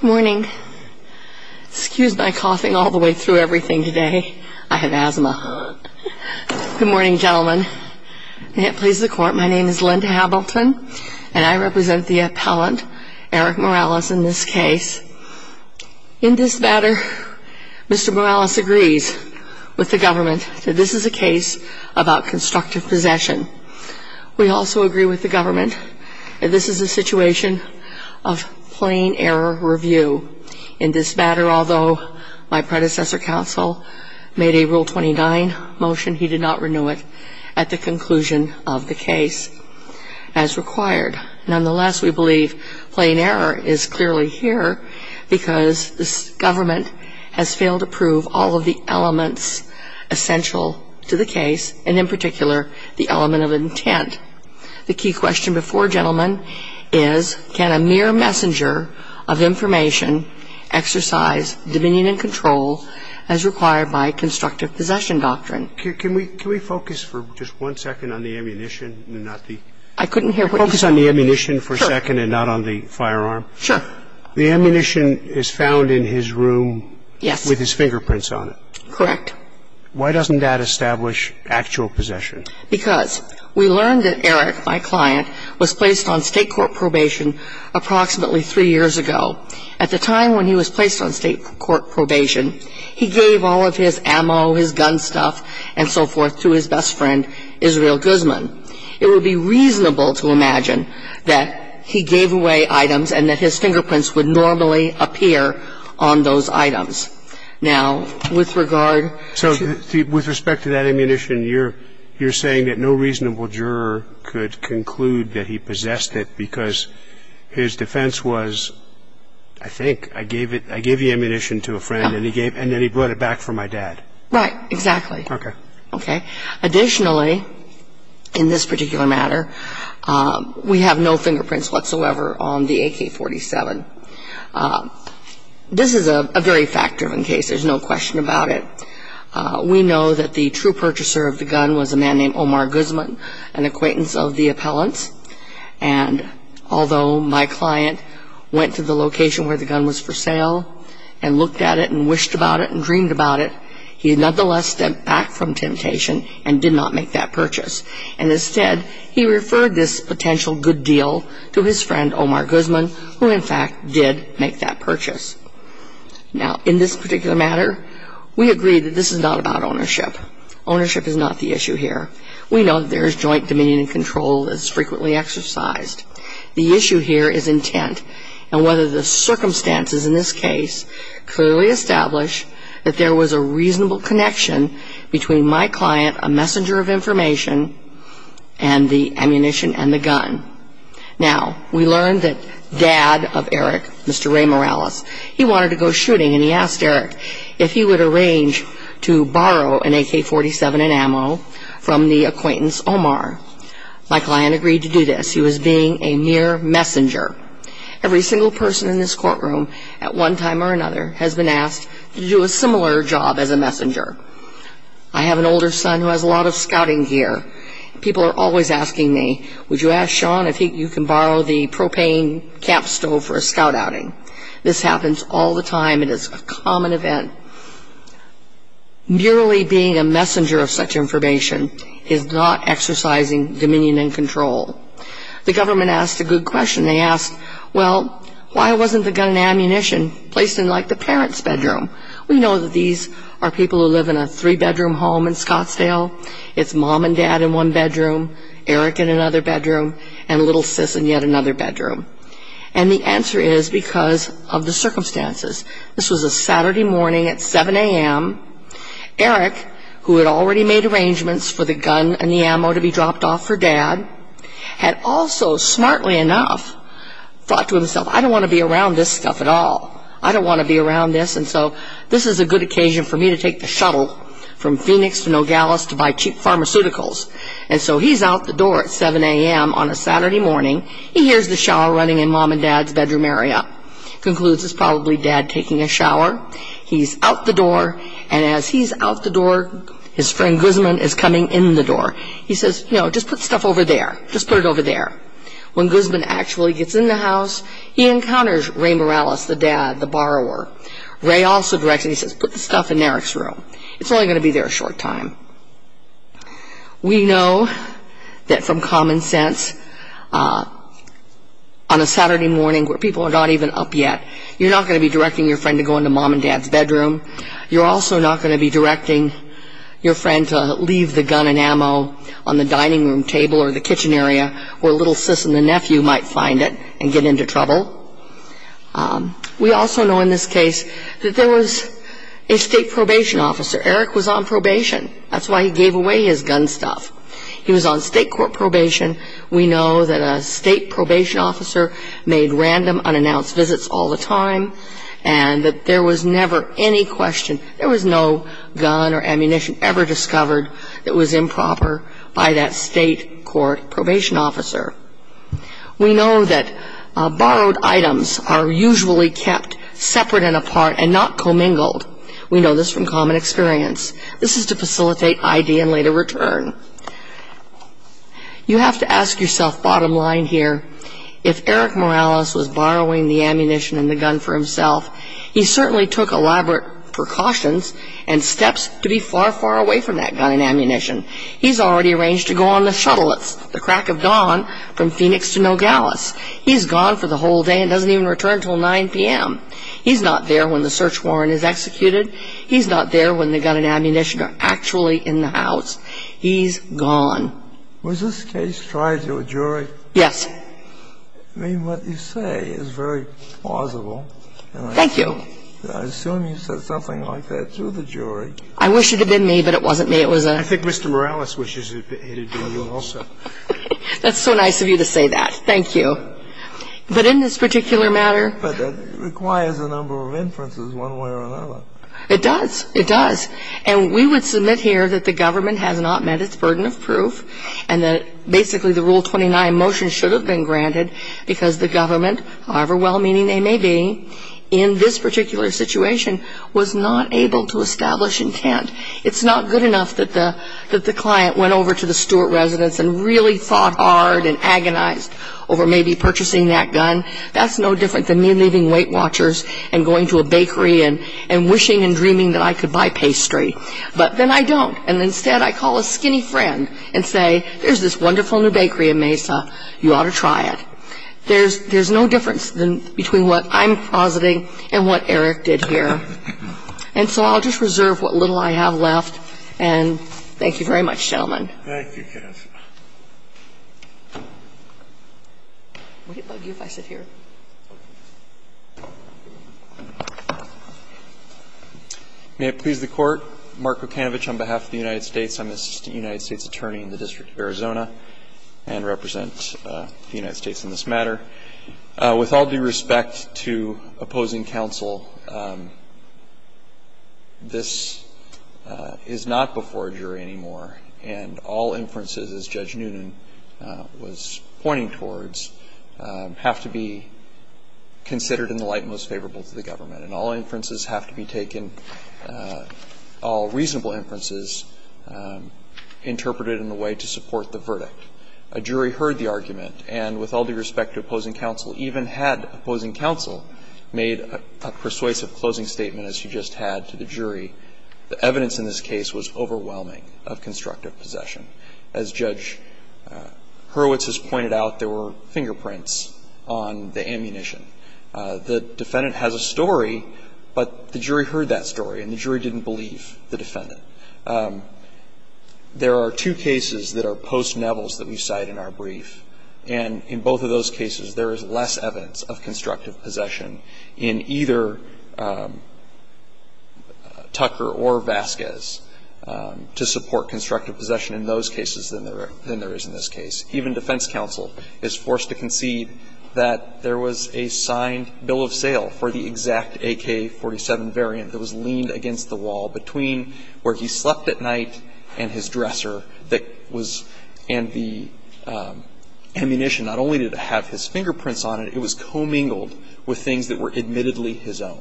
Good morning. Excuse my coughing all the way through everything today. I have asthma. Good morning, gentlemen. May it please the court, my name is Linda Hamilton, and I represent the appellant, Erick Morales, in this case. In this matter, Mr. Morales agrees with the government that this is a case about constructive possession. We also agree with the government that this is a situation of plain error review. In this matter, although my predecessor counsel made a Rule 29 motion, he did not renew it at the conclusion of the case as required. Nonetheless, we believe plain error is clearly here because this government has failed to prove all of the elements essential to the case, and in particular, the element of intent. The key question before, gentlemen, is can a mere messenger of information exercise dominion and control as required by constructive possession doctrine? Can we focus for just one second on the ammunition? I couldn't hear what you said. Focus on the ammunition for a second and not on the firearm. Sure. The ammunition is found in his room with his fingerprints on it. Correct. Why doesn't that establish actual possession? Because we learned that Erick, my client, was placed on state court probation approximately three years ago. At the time when he was placed on state court probation, he gave all of his ammo, his gun stuff, and so forth to his best friend, Israel Guzman. It would be reasonable to imagine that he gave away items and that his fingerprints would normally appear on those items. So with respect to that ammunition, you're saying that no reasonable juror could conclude that he possessed it because his defense was, I think, I gave the ammunition to a friend and then he brought it back for my dad. Right. Exactly. Okay. Okay. Additionally, in this particular matter, we have no fingerprints whatsoever on the AK-47. This is a very fact-driven case. There's no question about it. We know that the true purchaser of the gun was a man named Omar Guzman, an acquaintance of the appellant's. And although my client went to the location where the gun was for sale and looked at it and wished about it and dreamed about it, he nonetheless stepped back from temptation and did not make that purchase. And instead, he referred this potential good deal to his friend, Omar Guzman, who, in fact, did make that purchase. Now, in this particular matter, we agree that this is not about ownership. Ownership is not the issue here. We know that there is joint dominion and control that is frequently exercised. The issue here is intent, and whether the circumstances in this case clearly establish that there was a reasonable connection between my client, a messenger of information, and the ammunition and the gun. Now, we learned that dad of Eric, Mr. Ray Morales, he wanted to go shooting, and he asked Eric if he would arrange to borrow an AK-47 and ammo from the acquaintance, Omar. My client agreed to do this. He was being a mere messenger. Every single person in this courtroom, at one time or another, has been asked to do a similar job as a messenger. I have an older son who has a lot of scouting gear. People are always asking me, would you ask Sean if you can borrow the propane cap stove for a scout outing? This happens all the time. It is a common event. Merely being a messenger of such information is not exercising dominion and control. The government asked a good question. They asked, well, why wasn't the gun and ammunition placed in, like, the parents' bedroom? We know that these are people who live in a three-bedroom home in Scottsdale. It's mom and dad in one bedroom, Eric in another bedroom, and little sis in yet another bedroom. And the answer is because of the circumstances. This was a Saturday morning at 7 a.m. Eric, who had already made arrangements for the gun and the ammo to be dropped off for dad, had also, smartly enough, thought to himself, I don't want to be around this stuff at all. I don't want to be around this, and so this is a good occasion for me to take the shuttle from Phoenix to Nogales to buy cheap pharmaceuticals. And so he's out the door at 7 a.m. on a Saturday morning. He hears the shower running in mom and dad's bedroom area, concludes it's probably dad taking a shower. He's out the door, and as he's out the door, his friend Guzman is coming in the door. He says, you know, just put stuff over there, just put it over there. When Guzman actually gets in the house, he encounters Ray Morales, the dad, the borrower. Ray also directs him, he says, put the stuff in Eric's room. It's only going to be there a short time. We know that from common sense, on a Saturday morning where people are not even up yet, you're not going to be directing your friend to go into mom and dad's bedroom. You're also not going to be directing your friend to leave the gun and ammo on the dining room table or the kitchen area where little sis and the nephew might find it and get into trouble. We also know in this case that there was a state probation officer. Eric was on probation. That's why he gave away his gun stuff. He was on state court probation. We know that a state probation officer made random unannounced visits all the time and that there was never any question, there was no gun or ammunition ever discovered that was improper by that state court probation officer. We know that borrowed items are usually kept separate and apart and not commingled. We know this from common experience. This is to facilitate ID and later return. You have to ask yourself, bottom line here, if Eric Morales was borrowing the ammunition and the gun for himself, he certainly took elaborate precautions and steps to be far, far away from that gun and ammunition. He's already arranged to go on the shuttle. It's the crack of dawn from Phoenix to Nogales. He's gone for the whole day and doesn't even return until 9 p.m. He's not there when the search warrant is executed. He's not there when the gun and ammunition are actually in the house. He's gone. He's probably out here without the gun or the bullets. When the investigation goes on, they want to get some evidence. And they will execute that decision all the time. Is this case tried to a jury? Yes. What you say is very plausible. Thank you. I assume you said something like that to the jury. I wish it had been me. But it wasn't me. It was a ---- Mr. Morales wishes it had been you also. That's so nice of you to say that. Thank you. But in this particular matter ---- But that requires a number of inferences one way or another. It does. It does. And we would submit here that the government has not met its burden of proof and that basically the Rule 29 motion should have been granted because the government, however well-meaning they may be, in this particular situation, was not able to establish intent. It's not good enough that the client went over to the Stewart residence and really fought hard and agonized over maybe purchasing that gun. That's no different than me leaving Weight Watchers and going to a bakery and wishing and dreaming that I could buy pastry. But then I don't. And instead I call a skinny friend and say, there's this wonderful new bakery in Mesa, you ought to try it. There's no difference between what I'm positing and what Eric did here. And so I'll just reserve what little I have left. And thank you very much, gentlemen. Thank you, Kath. Would it bug you if I sit here? May it please the Court. Mark Okanovich on behalf of the United States. I'm an assistant United States attorney in the District of Arizona and represent the United States in this matter. With all due respect to opposing counsel, this is not before a jury anymore, and all inferences, as Judge Noonan was pointing towards, have to be considered in the light most favorable to the government. And all inferences have to be taken, all reasonable inferences, interpreted in a way to support the verdict. A jury heard the argument, and with all due respect to opposing counsel, even had opposing counsel made a persuasive closing statement as you just had to the jury, the evidence in this case was overwhelming of constructive possession. As Judge Hurwitz has pointed out, there were fingerprints on the ammunition. The defendant has a story, but the jury heard that story and the jury didn't believe the defendant. There are two cases that are post-Nevels that we cite in our brief, and in both of those cases there is less evidence of constructive possession in either Tucker or Vasquez to support constructive possession in those cases than there is in this case. Even defense counsel is forced to concede that there was a signed bill of sale for the exact AK-47 variant that was leaned against the wall between where he slept at night and his dresser that was in the ammunition. Not only did it have his fingerprints on it, it was commingled with things that were admittedly his own.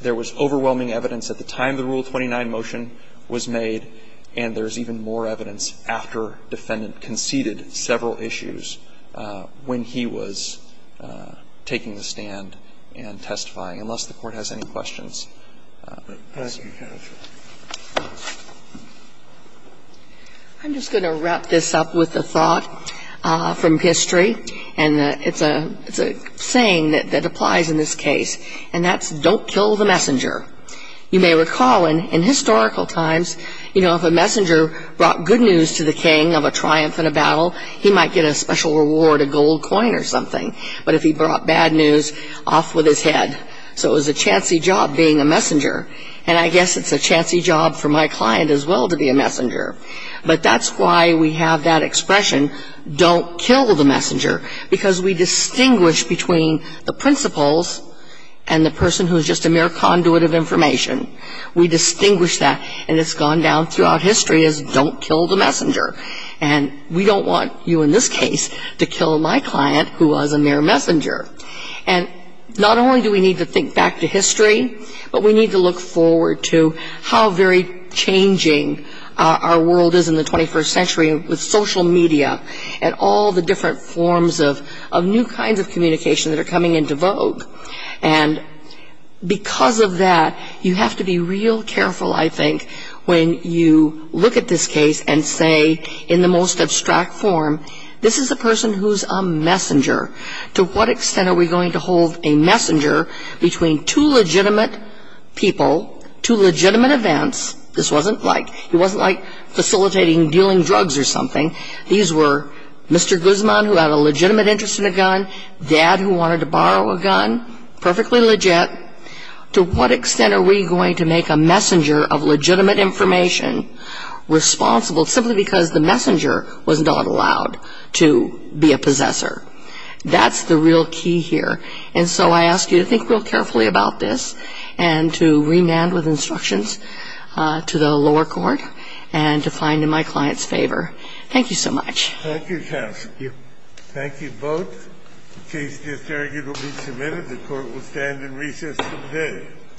There was overwhelming evidence at the time the Rule 29 motion was made, and there is even more evidence after defendant conceded several issues when he was taking the stand and testifying, unless the Court has any questions. I'm just going to wrap this up with a thought from history, and it's a saying that applies in this case, and that's don't kill the messenger. You may recall in historical times, you know, if a messenger brought good news to the king of a triumph in a battle, he might get a special reward, a gold coin or something. But if he brought bad news, off with his head. So it was a chancy job being a messenger, and I guess it's a chancy job for my client as well to be a messenger. But that's why we have that expression, don't kill the messenger, because we distinguish between the principles and the person who is just a mere conduit of information. We distinguish that, and it's gone down throughout history as don't kill the messenger. And we don't want you in this case to kill my client who was a mere messenger. And not only do we need to think back to history, but we need to look forward to how very changing our world is in the 21st century with social media and all the different forms of new kinds of communication that are coming into vogue. And because of that, you have to be real careful, I think, when you look at this case and say in the most abstract form, this is a person who's a messenger. To what extent are we going to hold a messenger between two legitimate people, two legitimate events. This wasn't like facilitating dealing drugs or something. These were Mr. Guzman who had a legitimate interest in a gun, dad who wanted to borrow a gun, perfectly legit. To what extent are we going to make a messenger of legitimate information responsible simply because the messenger was not allowed to be a possessor. That's the real key here. And so I ask you to think real carefully about this and to remand with instructions to the lower court and to find in my client's favor. Thank you so much. Thank you, counsel. Thank you. Thank you both. The case disargued will be submitted. The court will stand in recess today.